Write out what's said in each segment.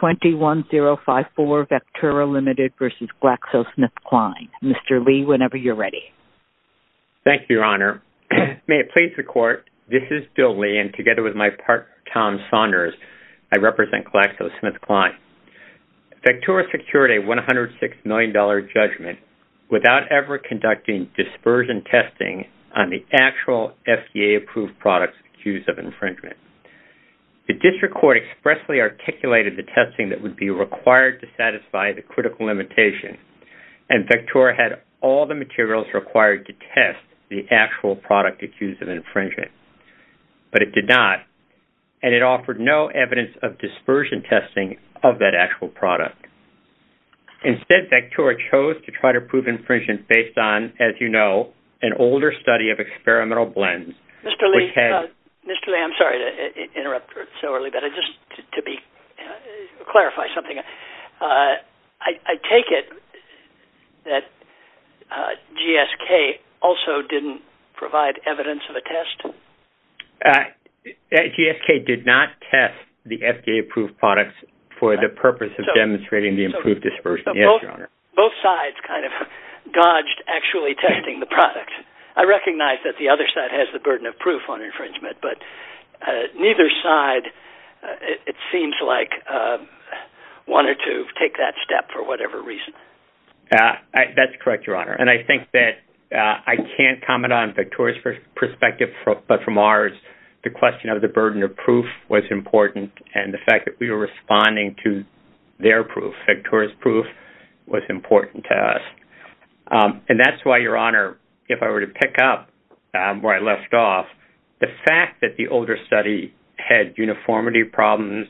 21-054 Vectura Limited v. GlaxoSmithKline. Mr. Lee, whenever you're ready. Thank you, Your Honor. May it please the Court, this is Bill Lee, and together with my partner, Tom Saunders, I represent GlaxoSmithKline. Vectura secured a $106 million judgment without ever conducting dispersion testing on the actual FDA-approved products accused of infringement, but it did not, and it offered no evidence of dispersion testing of that actual product. Instead, Vectura chose to try to prove infringement based on, as you know, an older study of experimental blends, which had- Mr. Lee, Mr. Lee, I'm sorry to interrupt so early, but I just, to be clear, I don't know what you're talking about. I'm talking about something-I take it that GSK also didn't provide evidence of a test? GSK did not test the FDA-approved products for the purpose of demonstrating the improved dispersion. Yes, Your Honor. Both sides kind of dodged actually testing the product. I recognize that the other side has the burden of proof on infringement, but neither side, it seems like, wanted to take that step for whatever reason. That's correct, Your Honor, and I think that I can't comment on Vectura's perspective, but from ours, the question of the burden of proof was important, and the fact that we were responding to their proof, Vectura's proof, was important to us. And that's why, Your Honor, if I were to pick up where I left off, the fact that the older study had uniformity problems,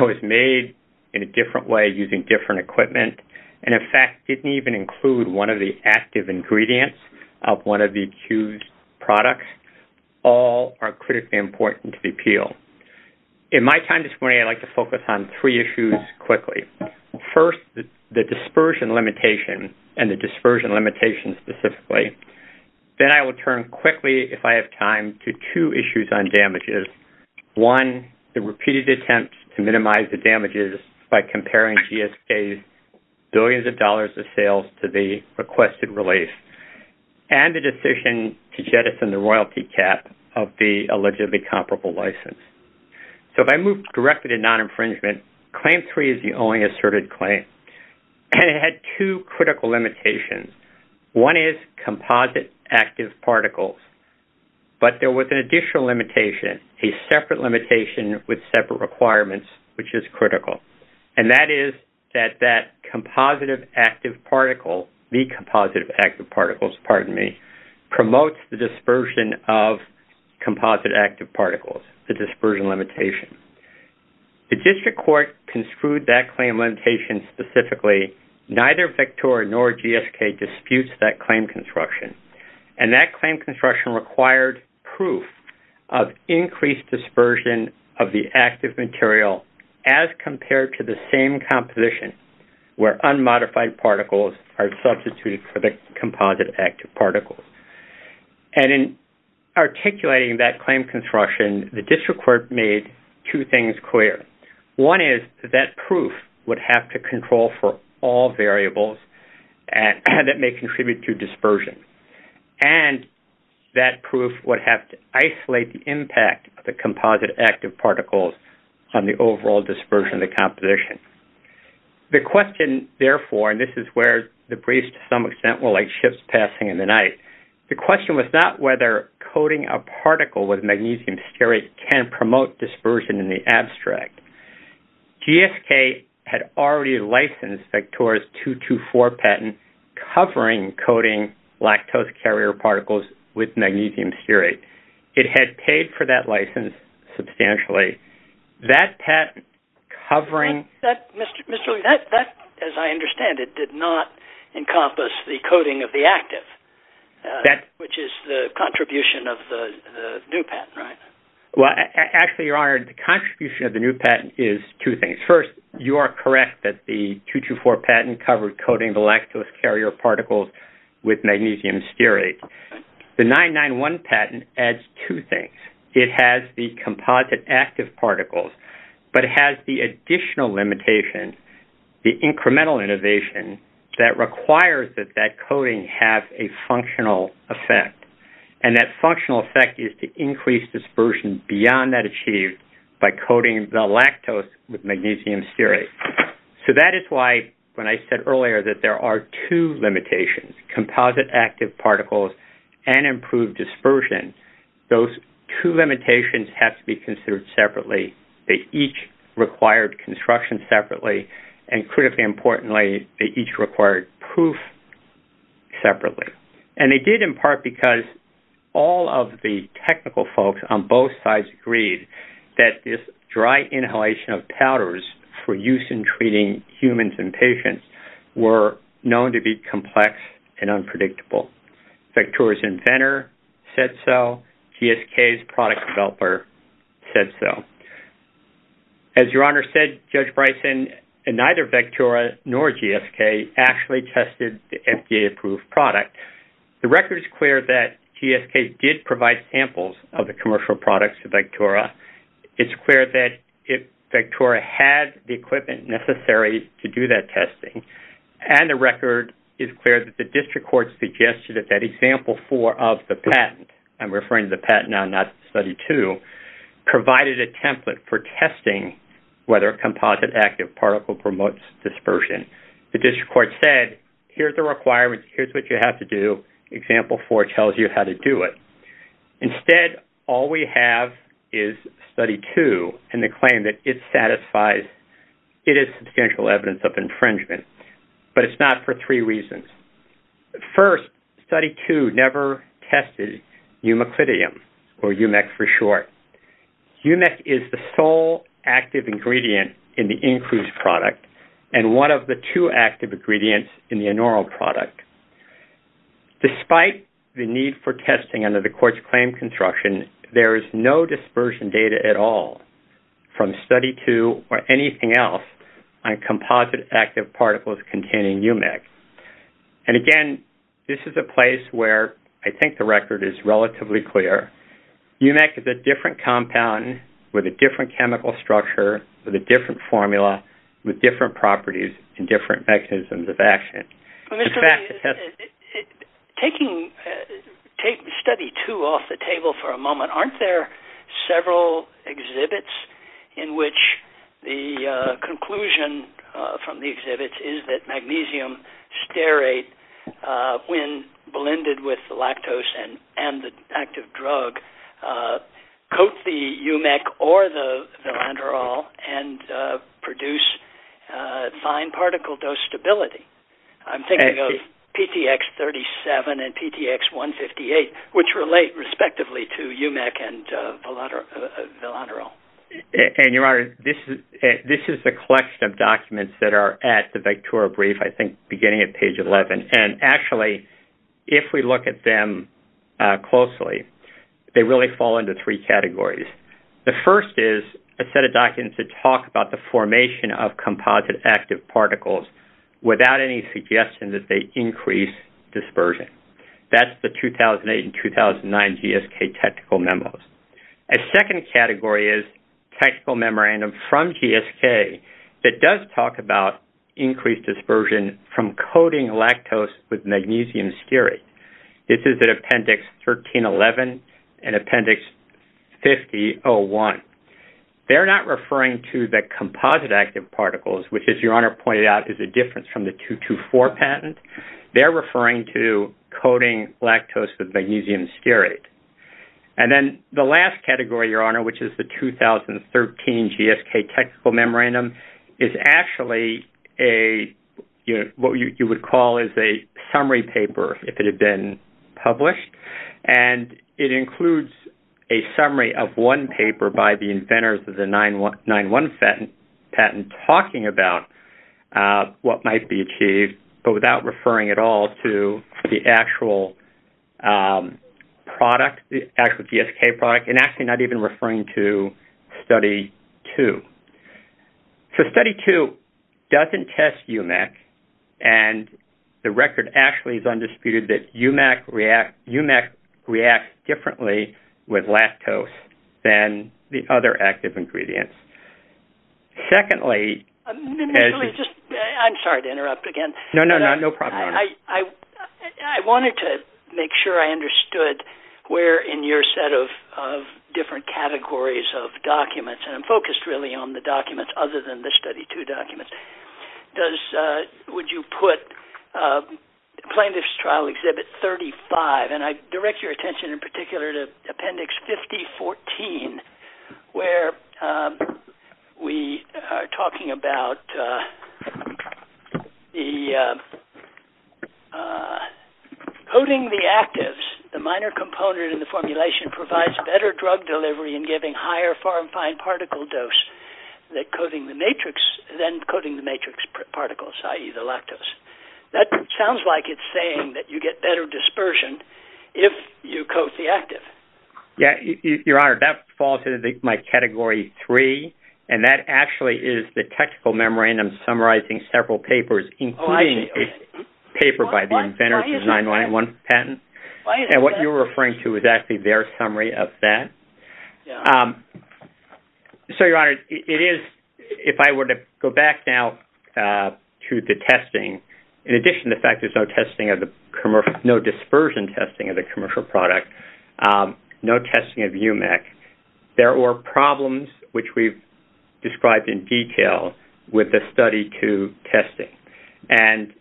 was made in a different way using different equipment, and, in fact, didn't even include one of the active ingredients of one of the accused products, all are critically important to the appeal. In my time this morning, I'd like to focus on three issues quickly. First, the dispersion limitation, and the dispersion limitation specifically. Then I will turn quickly, if I have time, to two issues on damages. One, the repeated attempts to minimize the damages by comparing GSK's billions of dollars of sales to the requested release, and the decision to jettison the royalty cap of the allegedly comparable license. So, if I move directly to non-infringement, Claim 3 is the only asserted claim, and it had two critical limitations. One is composite active particles, but there was an additional limitation, a separate limitation with separate requirements, which is critical, and that is that that composite active particle, the composite active particles, pardon me, promotes the dispersion of composite active particles, the dispersion limitation. The district court construed that claim limitation specifically. Neither Victoria nor GSK disputes that claim construction, and that claim construction required proof of increased dispersion of the active material as compared to the same composition where unmodified particles are substituted for the composite active particles. And in articulating that claim construction, the district court made two things clear. One is that that proof would have to control for all variables that may contribute to dispersion, and that proof would have to isolate the impact of the composite active particles on the overall dispersion of the composition. The question, therefore, and this is where the question was not whether coating a particle with magnesium stearate can promote dispersion in the abstract. GSK had already licensed Victoria's 224 patent covering coating lactose carrier particles with magnesium stearate. It had paid for that license substantially. That patent covering... Mr. Lee, as I understand it, did not encompass the coating of the active, which is the contribution of the new patent, right? Well, actually, Your Honor, the contribution of the new patent is two things. First, you are correct that the 224 patent covered coating the lactose carrier particles with magnesium stearate. The 991 patent adds two things. It has the composite active particles, but it has the additional limitation, the incremental innovation that requires that that coating have a functional effect, and that functional effect is to increase dispersion beyond that achieved by coating the lactose with magnesium stearate. So that is why, when I said earlier that there are two limitations, composite active particles and improved dispersion, those two limitations have to be considered separately. They each required construction separately, and critically importantly, they each required proof separately. And they did in part because all of the technical folks on both sides agreed that this dry inhalation of powders for use in treating humans and patients were known to be effective. Vectora's inventor said so. GSK's product developer said so. As Your Honor said, Judge Bryson, neither Vectora nor GSK actually tested the FDA-approved product. The record is clear that GSK did provide samples of the commercial products to Vectora. It's clear that if Vectora had the equipment necessary to do that testing, and the record is clear that the district court suggested that that example four of the patent, I'm referring to the patent now, not study two, provided a template for testing whether a composite active particle promotes dispersion. The district court said, here's the requirement, here's what you have to do, example four tells you how to do it. Instead, all we have is study two, and the claim that it satisfies, it is substantial evidence of infringement. But it's not for three reasons. First, study two never tested eumeclidium, or eumec for short. Eumec is the sole active ingredient in the Incruz product, and one of the two active ingredients in the Enoril product. Despite the need for testing under the court's claim construction, there is no dispersion data at all from study two or anything else on composite active particles containing eumec. And again, this is a place where I think the record is relatively clear. Eumec is a different compound with a different chemical structure, with a different formula, with different properties, and different mechanisms of action. Mr. Lee, taking study two off the table for a moment, aren't there several exhibits in which the conclusion from the exhibits is that magnesium stearate, when blended with lactose and the active drug, coat the eumec or the philanderol and produce fine particle dose stability? I'm thinking of PTX-37 and PTX-158, which relate respectively to eumec and philanderol. And Your Honor, this is the collection of documents that are at the Vectora brief, I think beginning at page 11. And actually, if we look at them closely, they really fall into three categories. The first is a set of documents that talk about the formation of that they increase dispersion. That's the 2008 and 2009 GSK technical memos. A second category is technical memorandum from GSK that does talk about increased dispersion from coating lactose with magnesium stearate. This is at appendix 1311 and appendix 50-01. They're not referring to the composite active particles, which, as Your Honor pointed out, is a difference from the 224 patent. They're referring to coating lactose with magnesium stearate. And then the last category, Your Honor, which is the 2013 GSK technical memorandum, is actually what you would call a summary paper, if it had been published. And it includes a summary of one paper by the inventors of the 9-1 patent talking about what might be achieved, but without referring at all to the actual GSK product, and actually not even referring to Study 2. So, Study 2 doesn't test UMAC, and the record actually is undisputed that UMAC reacts differently with lactose than the other active ingredients. Secondly- I'm sorry to interrupt again. No, no, no. No problem, Your Honor. I wanted to make sure I understood where in your set of different categories of documents-and I'm focused really on the documents other than the Study 2 documents-would you put Plaintiff's Trial Exhibit 35? And I direct your attention in particular to Appendix 5014, where we are talking about coating the actives. The minor component in the formulation provides better drug delivery in giving higher foreign fine particle dose than coating the matrix particles, i.e., the lactose. That sounds like it's saying that you get better dispersion if you coat the active. Yeah, Your Honor, that falls into my Category 3, and that actually is the technical memorandum summarizing several papers, including a paper by the inventors of the 9-1 patent, and what you're referring to is actually their summary of that. So, Your Honor, it is-if I were to go back now to the testing, in addition to the fact there's no dispersion testing of the commercial product, no testing of UMEC, there were problems, which we've described in detail, with the Study 2 testing. And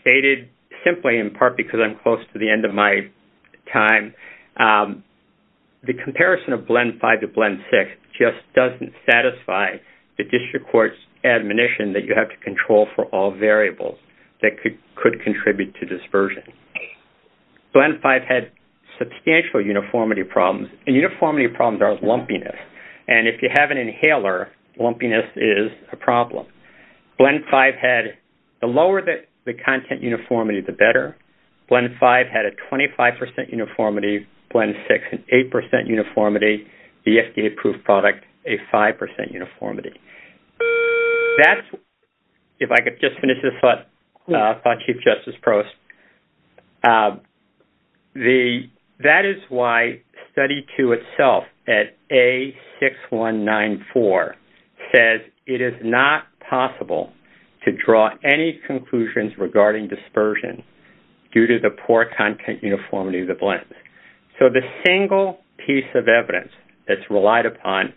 stated simply, in part because I'm close to the end of my time, the comparison of Blend 5 to Blend 6 just doesn't satisfy the District Court's admonition that you have to control for all variables that could contribute to dispersion. Blend 5 had substantial uniformity problems, and uniformity problems are lumpiness. And if you have an inhaler, lumpiness is a problem. Blend 5 had-the lower the content uniformity, the better. Blend 5 had a 25 percent uniformity. Blend 6, an 8 percent uniformity. The FDA-approved product, a 5 percent uniformity. That's-if I could just finish this thought, Chief Justice Prost-that is why Study 2 itself, at A6194, says it is not possible to control dispersion due to the poor content uniformity of the blends. So the single piece of evidence that's relied upon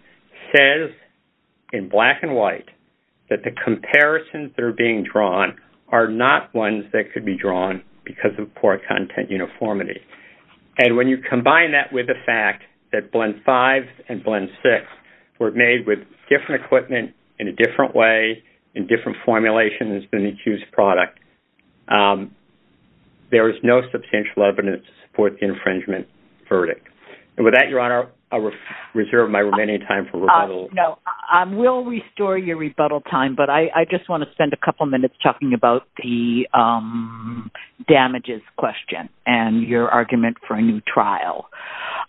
says, in black and white, that the comparisons that are being drawn are not ones that could be drawn because of poor content uniformity. And when you combine that with the fact that Blend 5 and Blend 6 were made with different equipment in a different way, in different formulations than the accused product, there is no substantial evidence to support the infringement verdict. And with that, Your Honor, I'll reserve my remaining time for rebuttal. No. We'll restore your rebuttal time, but I just want to spend a couple minutes talking about the damages question and your argument for a new trial.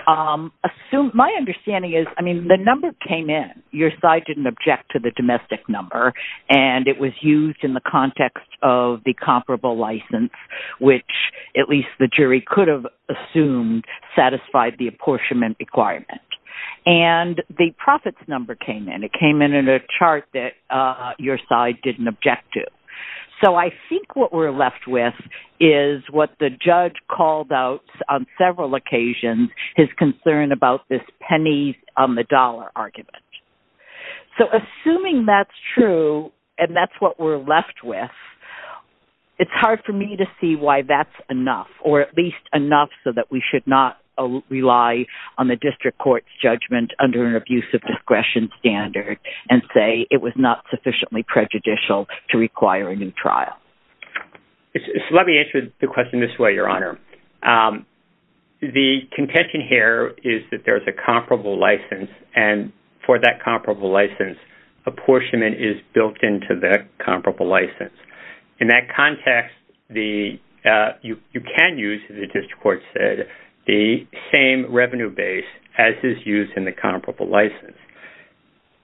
My understanding is-I mean, the number came in. Your side didn't object to the domestic number, and it was used in the context of the comparable license, which, at least the jury could have assumed, satisfied the apportionment requirement. And the profits number came in. It came in in a chart that your side didn't object to. So I think what we're left with is what the judge called out on several occasions, his concern about this pennies on the dollar argument. So assuming that's true, and that's what we're left with, it's hard for me to see why that's enough, or at least enough so that we should not rely on the district court's judgment under an abusive discretion standard and say it was not sufficiently prejudicial to require a new trial. It's-let me answer the question this way, Your Honor. The contention here is that there's a comparable license, and for that comparable license, apportionment is built into that comparable license. In that context, the-you can use, as the district court said, the same revenue base as is used in the comparable license.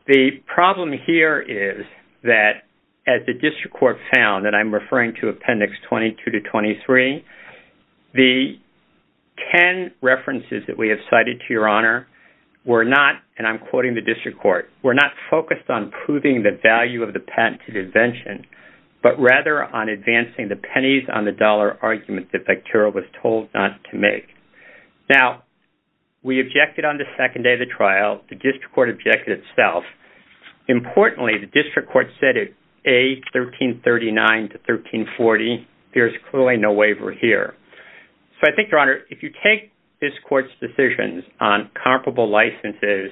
The problem here is that, as the district court found-and I'm referring to Appendix 22 to 23-the 10 references that we have cited, to your honor, were not-and I'm quoting the district court-were not focused on proving the value of the patented invention, but rather on advancing the pennies on the dollar argument that Bakhtarov was told not to make. Now, we objected on the second day of the trial. The district court objected itself. Importantly, the district court said at A1339 to 1340, there's clearly no waiver here. So I think, Your Honor, if you take this court's decisions on comparable licenses,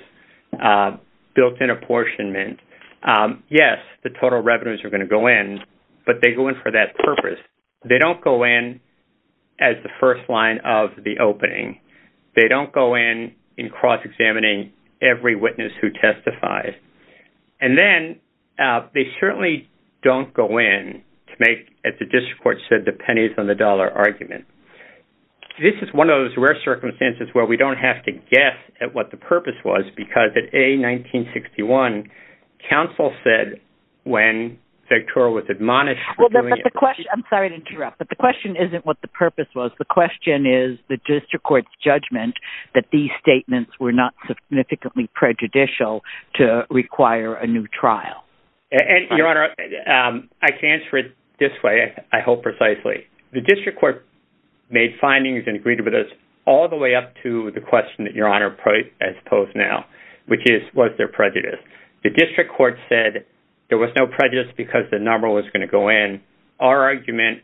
built-in apportionment, yes, the total revenues are going to go in, but they go in for that purpose. They don't go in as the first line of the opening. They don't go in in cross-examining every witness who testifies. And then, they certainly don't go in to make, as the district court said, the pennies on the dollar argument. This is one of those rare circumstances where we don't have to guess at what the purpose was, because at A1961, counsel said, when Bakhtarov was admonished for doing it... I'm sorry to interrupt, but the question isn't what the purpose was. The question is the district court's judgment that these statements were not significantly prejudicial to require a new trial. Your Honor, I can answer it this way, I hope, precisely. The district court made findings and agreed with us all the way up to the question that Your Honor has posed now, which is, was there prejudice? The district court said there was no prejudice because the number was going to go in. Our argument,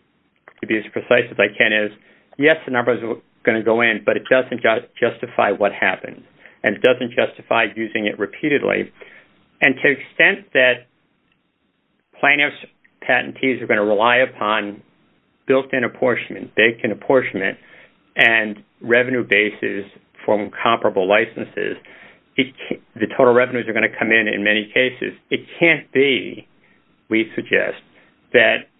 to be as precise as I can, is yes, the number is going to go in, but it doesn't justify what happened, and it doesn't justify using it repeatedly. And to the extent that plaintiff's patentees are going to rely upon built-in apportionment, vacant apportionment, and revenue bases from comparable licenses, the total revenues are going to come in in many cases. It can't be, we suggest, that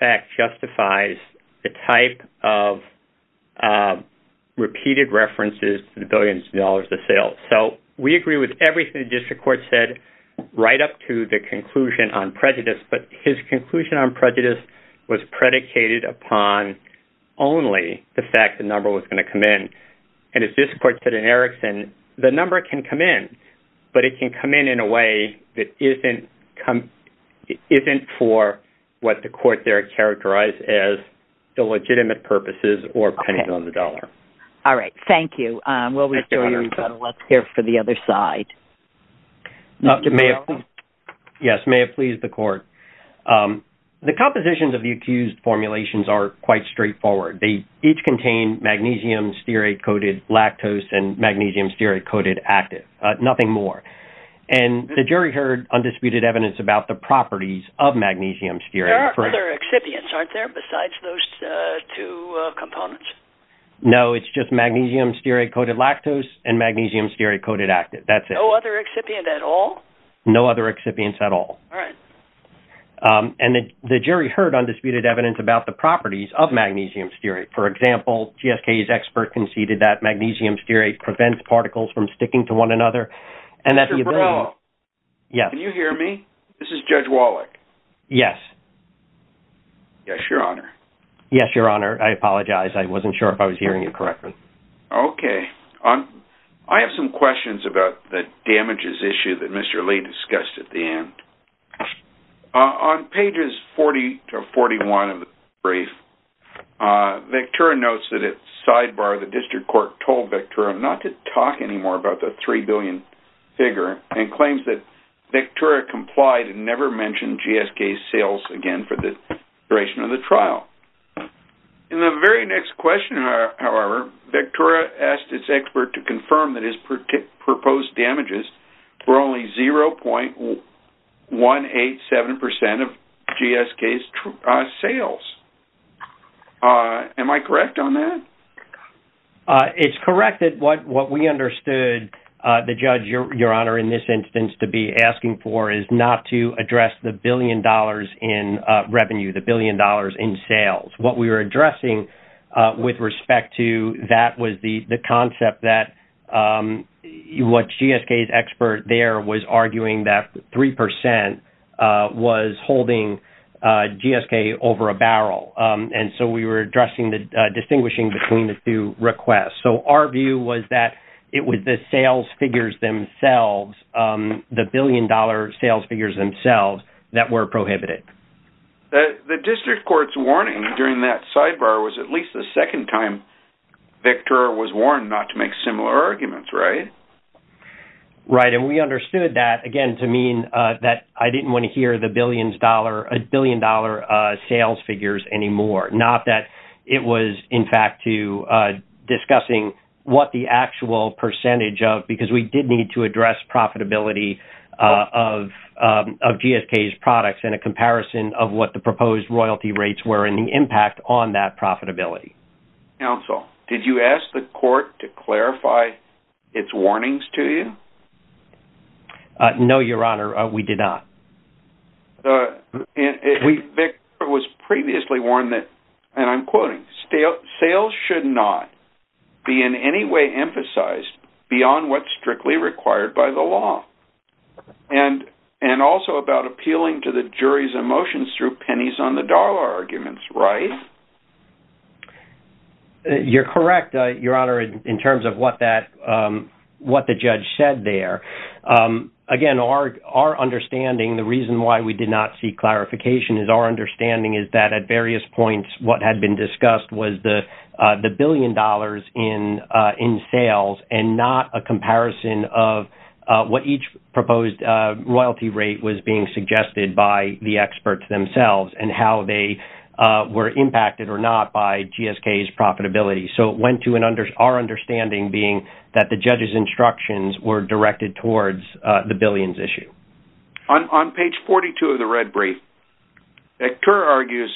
fact justifies the type of repeated references to the billions of dollars of sales. So we agree with everything the district court said right up to the conclusion on prejudice, but his conclusion on prejudice was predicated upon only the fact the number was going to come in. And as district court said in Erickson, the number can come in, but it can come in in a way that isn't for what the court there characterized as illegitimate purposes or pennies on the dollar. All right, thank you. We'll restore you, but let's hear from the other side. Yes, may it please the court. The compositions of the accused formulations are quite straightforward. They each contain magnesium stearate-coated lactose and magnesium stearate-coated active, nothing more. And the other excipients aren't there besides those two components? No, it's just magnesium stearate-coated lactose and magnesium stearate-coated active, that's it. No other excipient at all? No other excipients at all. All right. And the jury heard undisputed evidence about the properties of magnesium stearate. For example, GSK's expert conceded that magnesium stearate prevents particles from sticking to one another. Mr. Borrello, can you hear me? This is Judge Wallach. Yes. Yes, your honor. Yes, your honor. I apologize. I wasn't sure if I was hearing you correctly. Okay. I have some questions about the damages issue that Mr. Lee discussed at the end. Vectura notes that at sidebar, the district court told Vectura not to talk anymore about the $3 billion figure and claims that Vectura complied and never mentioned GSK's sales again for the duration of the trial. In the very next question, however, Vectura asked its expert to confirm that proposed damages were only 0.187% of GSK's sales. Am I correct on that? It's correct that what we understood the judge, your honor, in this instance to be asking for is not to address the billion dollars in revenue, the billion dollars in sales. What we were what GSK's expert there was arguing that 3% was holding GSK over a barrel. And so we were addressing the distinguishing between the two requests. So our view was that it was the sales figures themselves, the billion dollar sales figures themselves that were prohibited. The district court's warning during that sidebar was at least the second time Vectura was warned not to make similar arguments, right? Right. And we understood that, again, to mean that I didn't want to hear the billion dollar sales figures anymore. Not that it was in fact to discussing what the actual percentage of, because we did need to address profitability of GSK's products in a comparison of what the Did you ask the court to clarify its warnings to you? No, your honor, we did not. Victor was previously warned that, and I'm quoting, sales should not be in any way emphasized beyond what's strictly required by the law. And also about appealing to the jury's emotions through pennies on the dollar arguments, right? You're correct, your honor, in terms of what the judge said there. Again, our understanding, the reason why we did not see clarification is our understanding is that at various points, what had been discussed was the billion dollars in sales and not a comparison of what each royalty rate was being suggested by the experts themselves and how they were impacted or not by GSK's profitability. So it went to our understanding being that the judge's instructions were directed towards the billions issue. On page 42 of the red brief, Vector argues,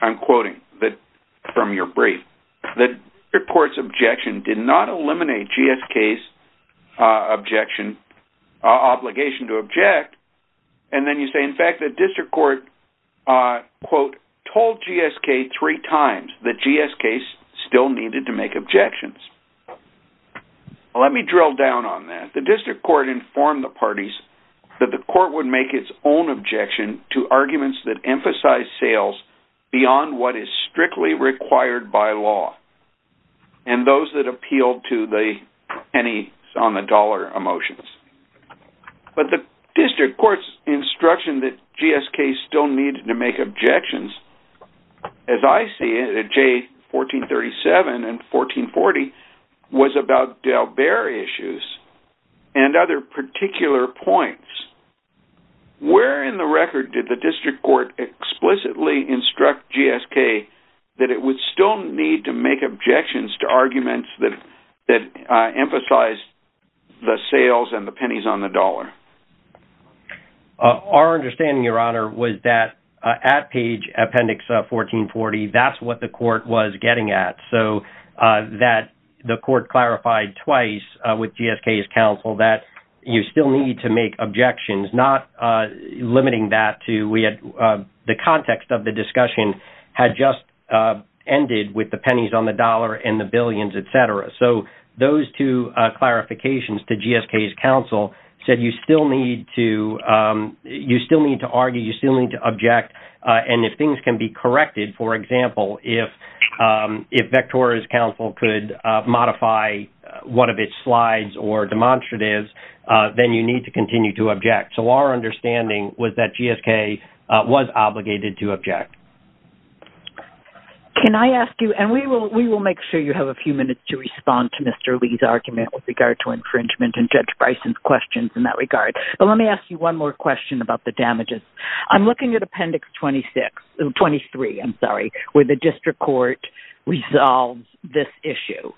I'm quoting from your brief, that the court's objection did not eliminate GSK's obligation to object. And then you say, in fact, the district court, quote, told GSK three times that GSK still needed to make objections. Let me drill down on that. The district court informed the parties that the court would make its own objection to arguments that emphasize sales beyond what is strictly required by law and those that appeal to the penny on the dollar emotions. But the district court's instruction that GSK still needed to make objections, as I see it, at J1437 and 1440, was about issues and other particular points. Where in the record did the district court explicitly instruct GSK that it would still need to make objections to arguments that emphasize the sales and the pennies on the dollar? Our understanding, your honor, was that at page appendix 1440, that's what the court was getting at. So that the court clarified twice with GSK's counsel that you still need to make objections, not limiting that to the context of the discussion had just ended with the pennies on the dollar and the billions, et cetera. So those two clarifications to GSK's counsel said you still need to argue, you still need to object. And if things can be corrected, for example, if Vectora's counsel could modify one of its slides or demonstratives, then you need to continue to object. So our understanding was that GSK was obligated to object. Can I ask you, and we will make sure you have a few minutes to respond to Mr. Lee's argument with regard to infringement and Judge I'm looking at appendix 26, 23, I'm sorry, where the district court resolves this issue.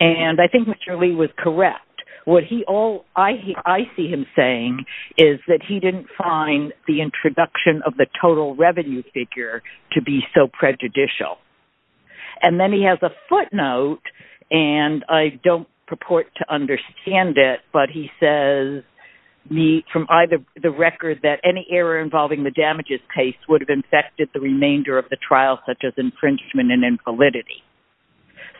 And I think Mr. Lee was correct. What he all I see him saying is that he didn't find the introduction of the total revenue figure to be so prejudicial. And then he has a footnote, and I don't purport to understand it, but he says from either the record that any error involving the damages case would have infected the remainder of the trial, such as infringement and infallibility.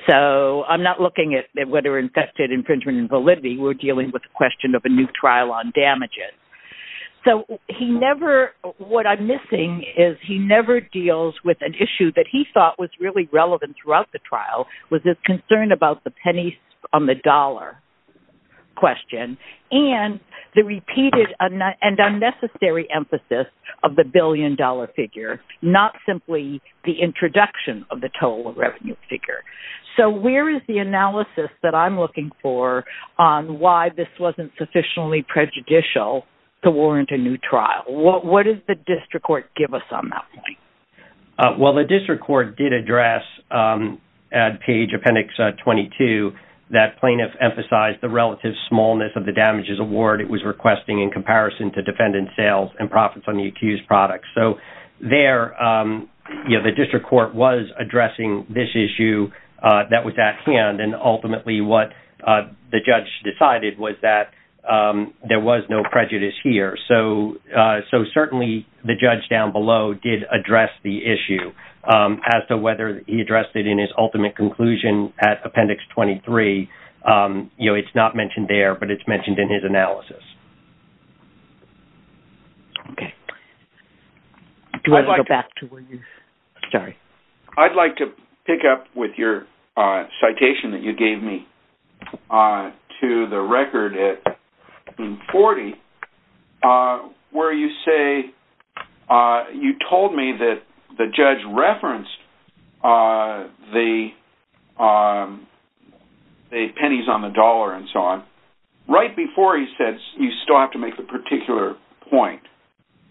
So I'm not looking at whether infested infringement and validity, we're dealing with the question of a new trial on damages. So he never, what I'm missing is he never deals with an issue that he thought was really relevant throughout the trial was his concern about the pennies on the dollar question and the repeated and unnecessary emphasis of the billion dollar figure, not simply the introduction of the total revenue figure. So where is the analysis that I'm looking for on why this wasn't sufficiently prejudicial to warrant a new trial? What does the district court give us on that point? Well, the district court did address at page appendix 22, that plaintiff emphasized the relative smallness of the damages award it was requesting in comparison to defendant sales and profits on the accused products. So there, the district court was addressing this issue that was at hand and ultimately what the judge decided was that there was no prejudice here. So certainly the judge down below did address the issue as to whether he addressed it in his ultimate conclusion at appendix 23, you know, it's not mentioned there, but it's mentioned in his analysis. Okay. Do you want to go back to where you, sorry. I'd like to pick up with your citation that you gave me to the record at 1440, uh, where you say, uh, you told me that the judge referenced, uh, the, um, the pennies on the dollar and so on right before he said, you still have to make a particular point.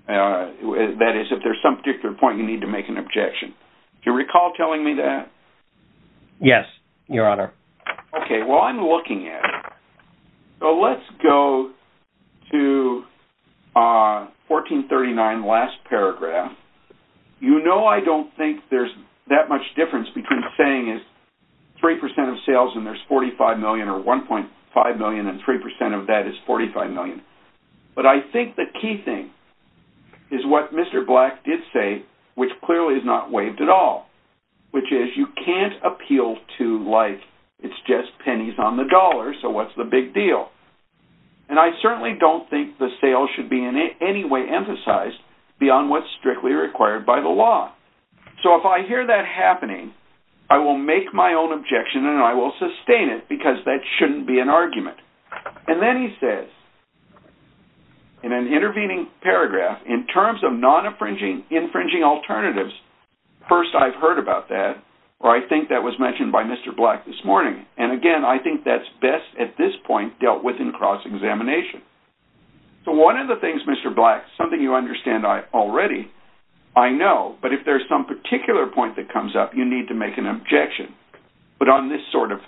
Uh, that is if there's some particular point, you need to make an objection. Do you recall telling me that? Yes, your honor. Okay. Well, I'm looking at, so let's go to, uh, 1439 last paragraph. You know, I don't think there's that much difference between saying is 3% of sales and there's 45 million or 1.5 million and 3% of that is 45 million. But I think the key thing is what Mr. Black did say, which clearly is not waived at all, which is you can't appeal to life. It's just pennies on the dollar. So what's the big deal? And I certainly don't think the sale should be in any way emphasized beyond what's strictly required by the law. So if I hear that happening, I will make my own objection and I will sustain it because that shouldn't be an argument. And then he says in an intervening paragraph, in terms of non-infringing alternatives, first I've heard about that or I think that was mentioned by Mr. Black this morning. And again, I think that's best at this point dealt with in cross examination. So one of the things Mr. Black, something you understand I already, I know, but if there's some particular point that comes up, you need to make an objection. But on this sort of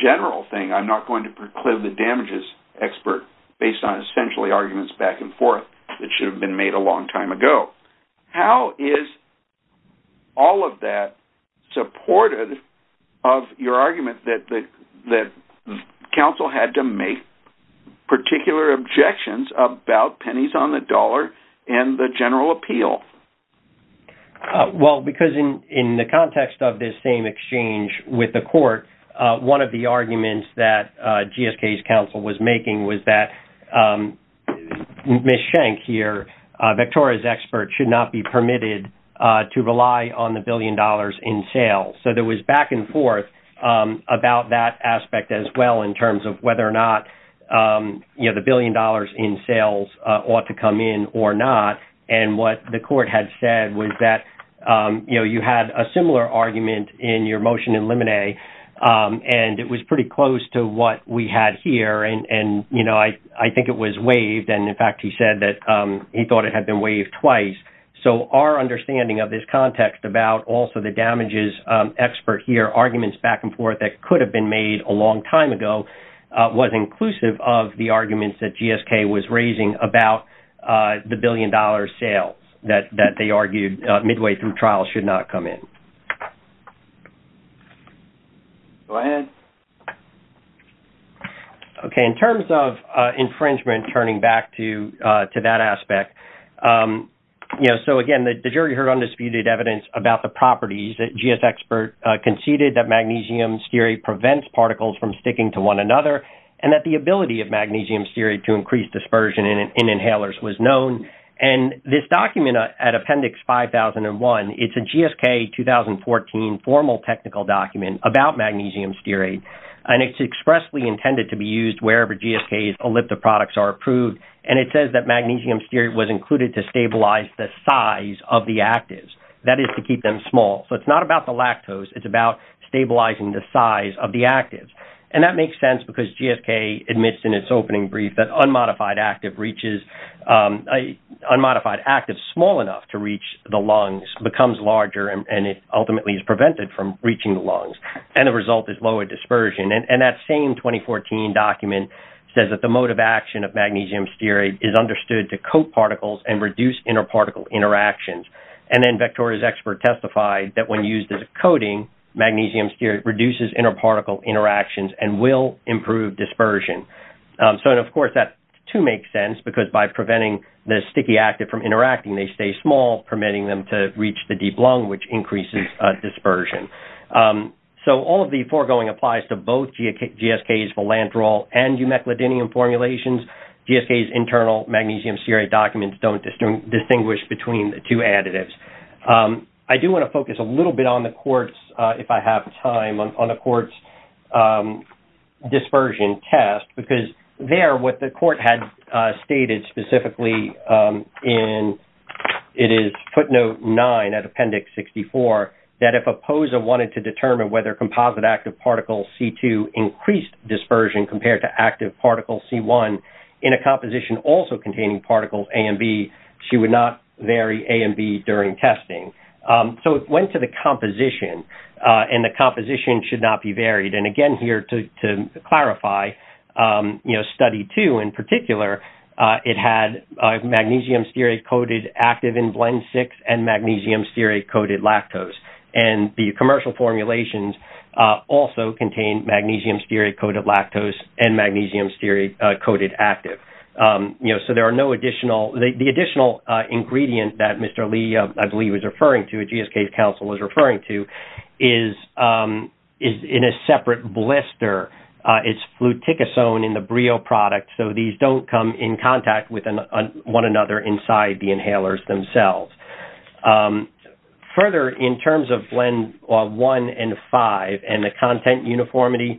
general thing, I'm not going to proclaim the damages expert based on essentially arguments back and forth that should have been made a long time ago. How is all of that supported of your argument that counsel had to make particular objections about pennies on the dollar and the general appeal? Well, because in the context of this same exchange with the court, one of the arguments that GSK's counsel was making was that Ms. Schenck here, Victoria's expert, should not be permitted to rely on the billion dollars in sales. So there was back and forth about that aspect as well in terms of whether or not the billion dollars in sales ought to come in or not. And what the court had said was that you had a similar argument in your motion in Lemonet, and it was pretty close to what we had here. And I think it was waived. And in fact, he said that he thought it had been waived twice. So our understanding of this context about also the damages expert here, arguments back and forth that could have been made a long time ago, was inclusive of the arguments that GSK was raising about the billion dollar sales that they were making. Go ahead. Okay. In terms of infringement, turning back to that aspect, so again, the jury heard undisputed evidence about the properties that GS expert conceded that magnesium stearate prevents particles from sticking to one another, and that the ability of magnesium stearate to increase dispersion in inhalers was known. And this document at Appendix 5001, it's a GSK 2014 formal technical document about magnesium stearate, and it's expressly intended to be used wherever GSK's elliptic products are approved. And it says that magnesium stearate was included to stabilize the size of the actives. That is to keep them small. So it's not about the lactose. It's about stabilizing the size of the active. And that makes sense because GSK admits in its opening brief that unmodified active reaches, unmodified active small enough to reach the lungs, becomes larger, and it ultimately is prevented from reaching the lungs, and the result is lower dispersion. And that same 2014 document says that the mode of action of magnesium stearate is understood to coat particles and reduce inter-particle interactions. And then Vectoria's expert testified that when used as a coating, magnesium stearate reduces inter-particle interactions and will improve dispersion. So, of course, that, too, makes sense because by permitting them to reach the deep lung, which increases dispersion. So all of the foregoing applies to both GSK's philanthral and eumeclidinium formulations. GSK's internal magnesium stearate documents don't distinguish between the two additives. I do want to focus a little bit on the court's, if I have time, on the court's test because there, what the court had stated specifically in footnote 9 of appendix 64, that if a POSA wanted to determine whether composite active particle C2 increased dispersion compared to active particle C1 in a composition also containing particles A and B, she would not vary A and B during testing. So it went to the composition, and the composition should not be clarified. Study 2, in particular, it had magnesium stearate-coated active in blend 6 and magnesium stearate-coated lactose. And the commercial formulations also contain magnesium stearate-coated lactose and magnesium stearate-coated active. So there are no additional- the additional ingredient that Mr. Lee, I believe, was referring to, GSK's counsel was referring to, is in a separate blister. It's fluticasone in the Brio product, so these don't come in contact with one another inside the inhalers themselves. Further, in terms of blend 1 and 5 and the content uniformity,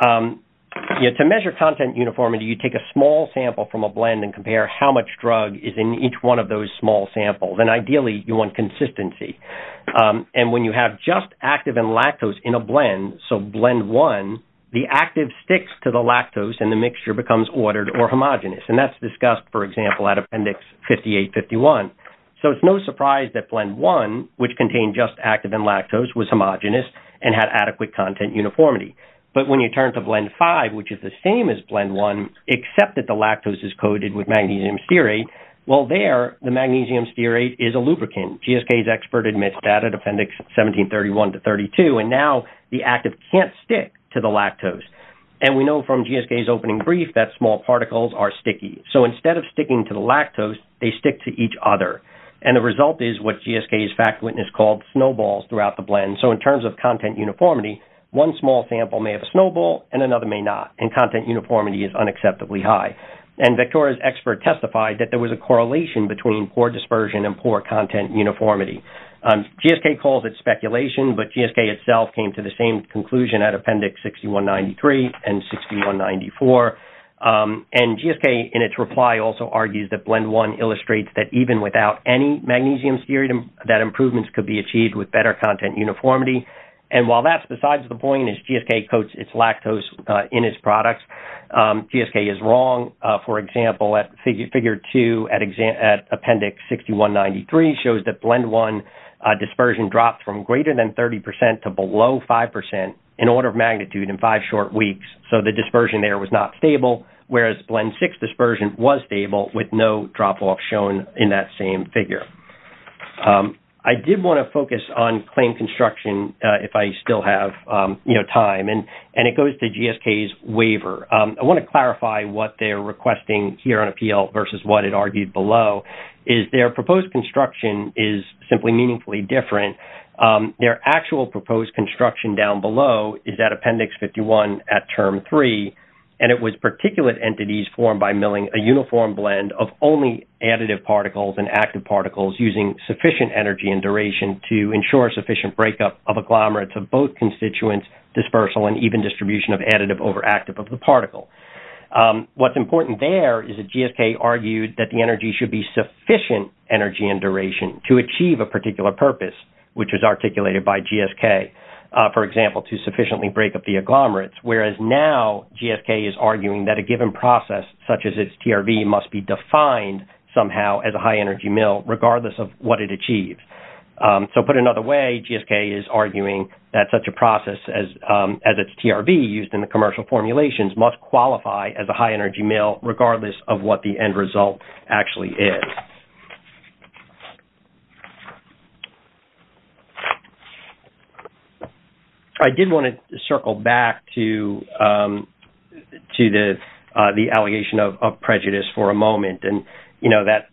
to measure content uniformity, you take a small sample from a blend and compare how much drug is in each one of those small samples. And ideally, you want consistency. And when you have just active and lactose in a blend, so blend 1, the active sticks to the lactose and the mixture becomes ordered or homogenous. And that's discussed, for example, at Appendix 5851. So it's no surprise that blend 1, which contained just active and lactose, was homogenous and had adequate content uniformity. But when you turn to blend 5, which is the same as blend 1, except that the lactose is coated with magnesium stearate, well there, the magnesium stearate is a lubricant. GSK's expert admits that at Appendix 1731 to 32. And now, the active can't stick to the lactose. And we know from GSK's opening brief that small particles are sticky. So instead of sticking to the lactose, they stick to each other. And the result is what GSK's fact witness called snowballs throughout the blend. So in terms of content uniformity, one small sample may have a snowball and another may not. And content testified that there was a correlation between poor dispersion and poor content uniformity. GSK calls it speculation, but GSK itself came to the same conclusion at Appendix 6193 and 6194. And GSK, in its reply, also argues that blend 1 illustrates that even without any magnesium stearate, that improvements could be achieved with better content uniformity. And while that's figure 2 at Appendix 6193 shows that blend 1 dispersion dropped from greater than 30% to below 5% in order of magnitude in five short weeks. So the dispersion there was not stable, whereas blend 6 dispersion was stable with no drop-off shown in that same figure. I did want to focus on claim construction if I still have time. And it goes to GSK's waiver. I want to clarify what they're requesting here on appeal versus what it argued below is their proposed construction is simply meaningfully different. Their actual proposed construction down below is at Appendix 51 at Term 3. And it was particulate entities formed by milling a uniform blend of only additive particles and active particles using sufficient energy and duration to ensure sufficient breakup of agglomerates of both constituents, dispersal and even distribution of additive over active of the particle. What's important there is that GSK argued that the energy should be sufficient energy and duration to achieve a particular purpose, which is articulated by GSK, for example, to sufficiently break up the agglomerates, whereas now GSK is arguing that a given process such as its TRV must be defined somehow as a high energy mill regardless of what it achieves. So put another way, GSK is arguing that such a process as its TRV used in the commercial formulations must qualify as a high energy mill regardless of what the end result actually is. I did want to circle back to the allegation of prejudice for a moment and, you know, that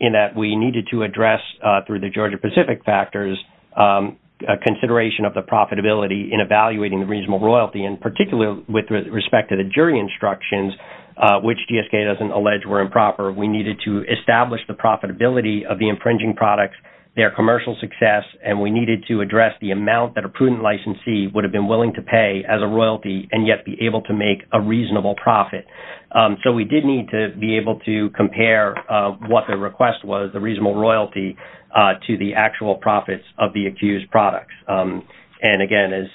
in that we needed to address, through the Georgia-Pacific factors, a consideration of the profitability in evaluating the reasonable royalty, in particular with respect to the jury instructions, which GSK doesn't allege were improper. We needed to establish the profitability of the infringing products, their commercial success, and we needed to address the amount that a prudent licensee would have been willing to pay as a royalty and yet be able to make a what the request was, the reasonable royalty, to the actual profits of the accused products. And, again, as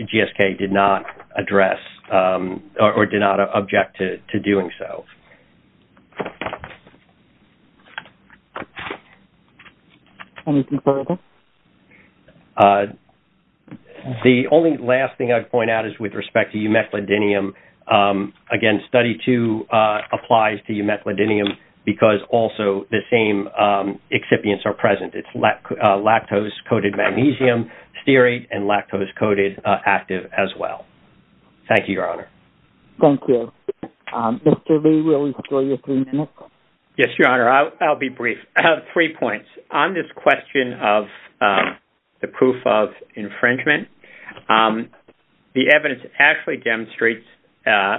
GSK did not address or did not object to doing so. The only last thing I'd point out is with respect to eumethyldinium, again, Study 2 applies to eumethyldinium because also the same excipients are present. It's lactose-coated magnesium, stearate, and lactose-coated active as well. Thank you, Your Honor. Thank you. Mr. Lee, we'll enjoy your three minutes. Yes, Your Honor. I'll be brief. I have three points. On this question of the proof of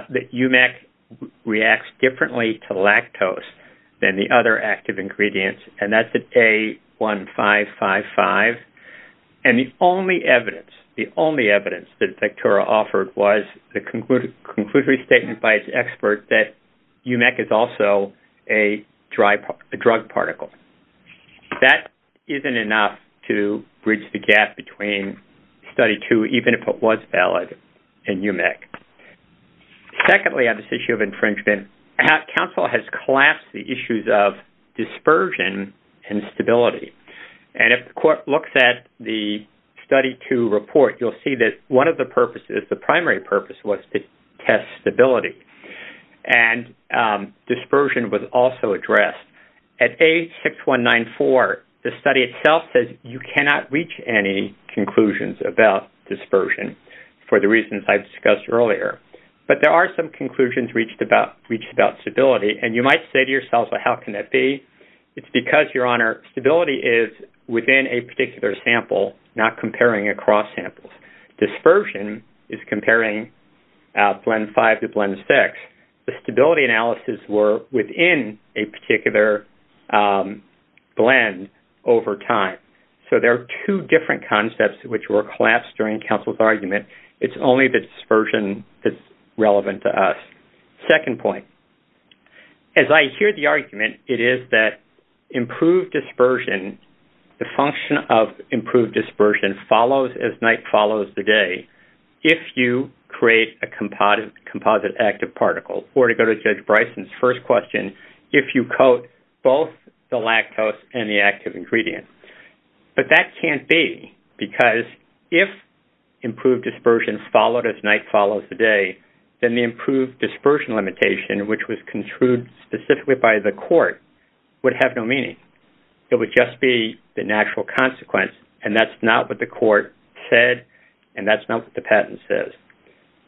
that eumeth reacts differently to lactose than the other active ingredients, and that's at A1555. And the only evidence, the only evidence that Vectora offered was the conclusive statement by its expert that eumeth is also a drug particle. That isn't enough to bridge the gap between Study 2, even if it was valid in eumeth. Secondly, on this issue of infringement, counsel has collapsed the issues of dispersion and stability. And if the court looks at the Study 2 report, you'll see that one of the purposes, the primary purpose, was to test stability. And dispersion was also addressed. At A6194, the study itself says you cannot reach any conclusions about dispersion for the reasons I've discussed earlier. But there are some conclusions reached about stability. And you might say to yourself, well, how can that be? It's because, Your Honor, stability is within a particular sample, not comparing across samples. Dispersion is comparing blend 5 to blend 6. The stability analyses were within a particular blend over time. So there are two different concepts which were collapsed during counsel's argument. It's only the dispersion that's relevant to us. Second point, as I hear the argument, it is that improved dispersion, the function of improved dispersion follows as night follows the day. If you create a composite active particle, or to go to Judge Bryson's first question, if you coat both the lactose and the active ingredient. But that can't be because if improved dispersion followed as night follows the day, then the improved dispersion limitation, which was construed specifically by the court, would have no meaning. It would just be the natural consequence. And that's not what the court said. And that's not what the patent says.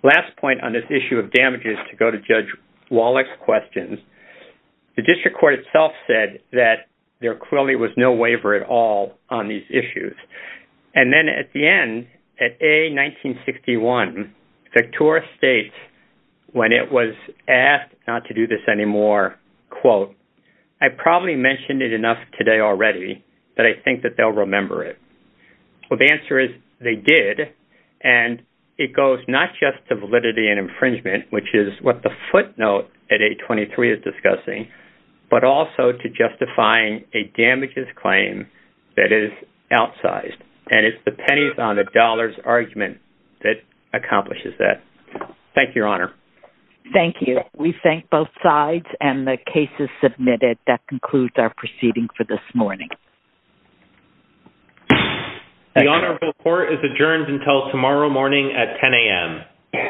Last point on this issue of damage is to go to Judge Wallach's questions. The district court itself said that there clearly was no waiver at all on these issues. And then at the end, at A-1961, Victoria State, when it was asked not to do this anymore, quote, I probably mentioned it enough today already, but I think that they'll remember it. Well, the answer is they did. And it goes not just to validity and infringement, which is what the footnote at A-23 is discussing, but also to justifying a damages claim that is outsized. And it's the pennies on the dollars argument that accomplishes that. Thank you, Your Honor. Thank you. We thank both sides and the cases submitted. That concludes our proceeding for this morning. The honorable court is adjourned until tomorrow morning at 10 a.m.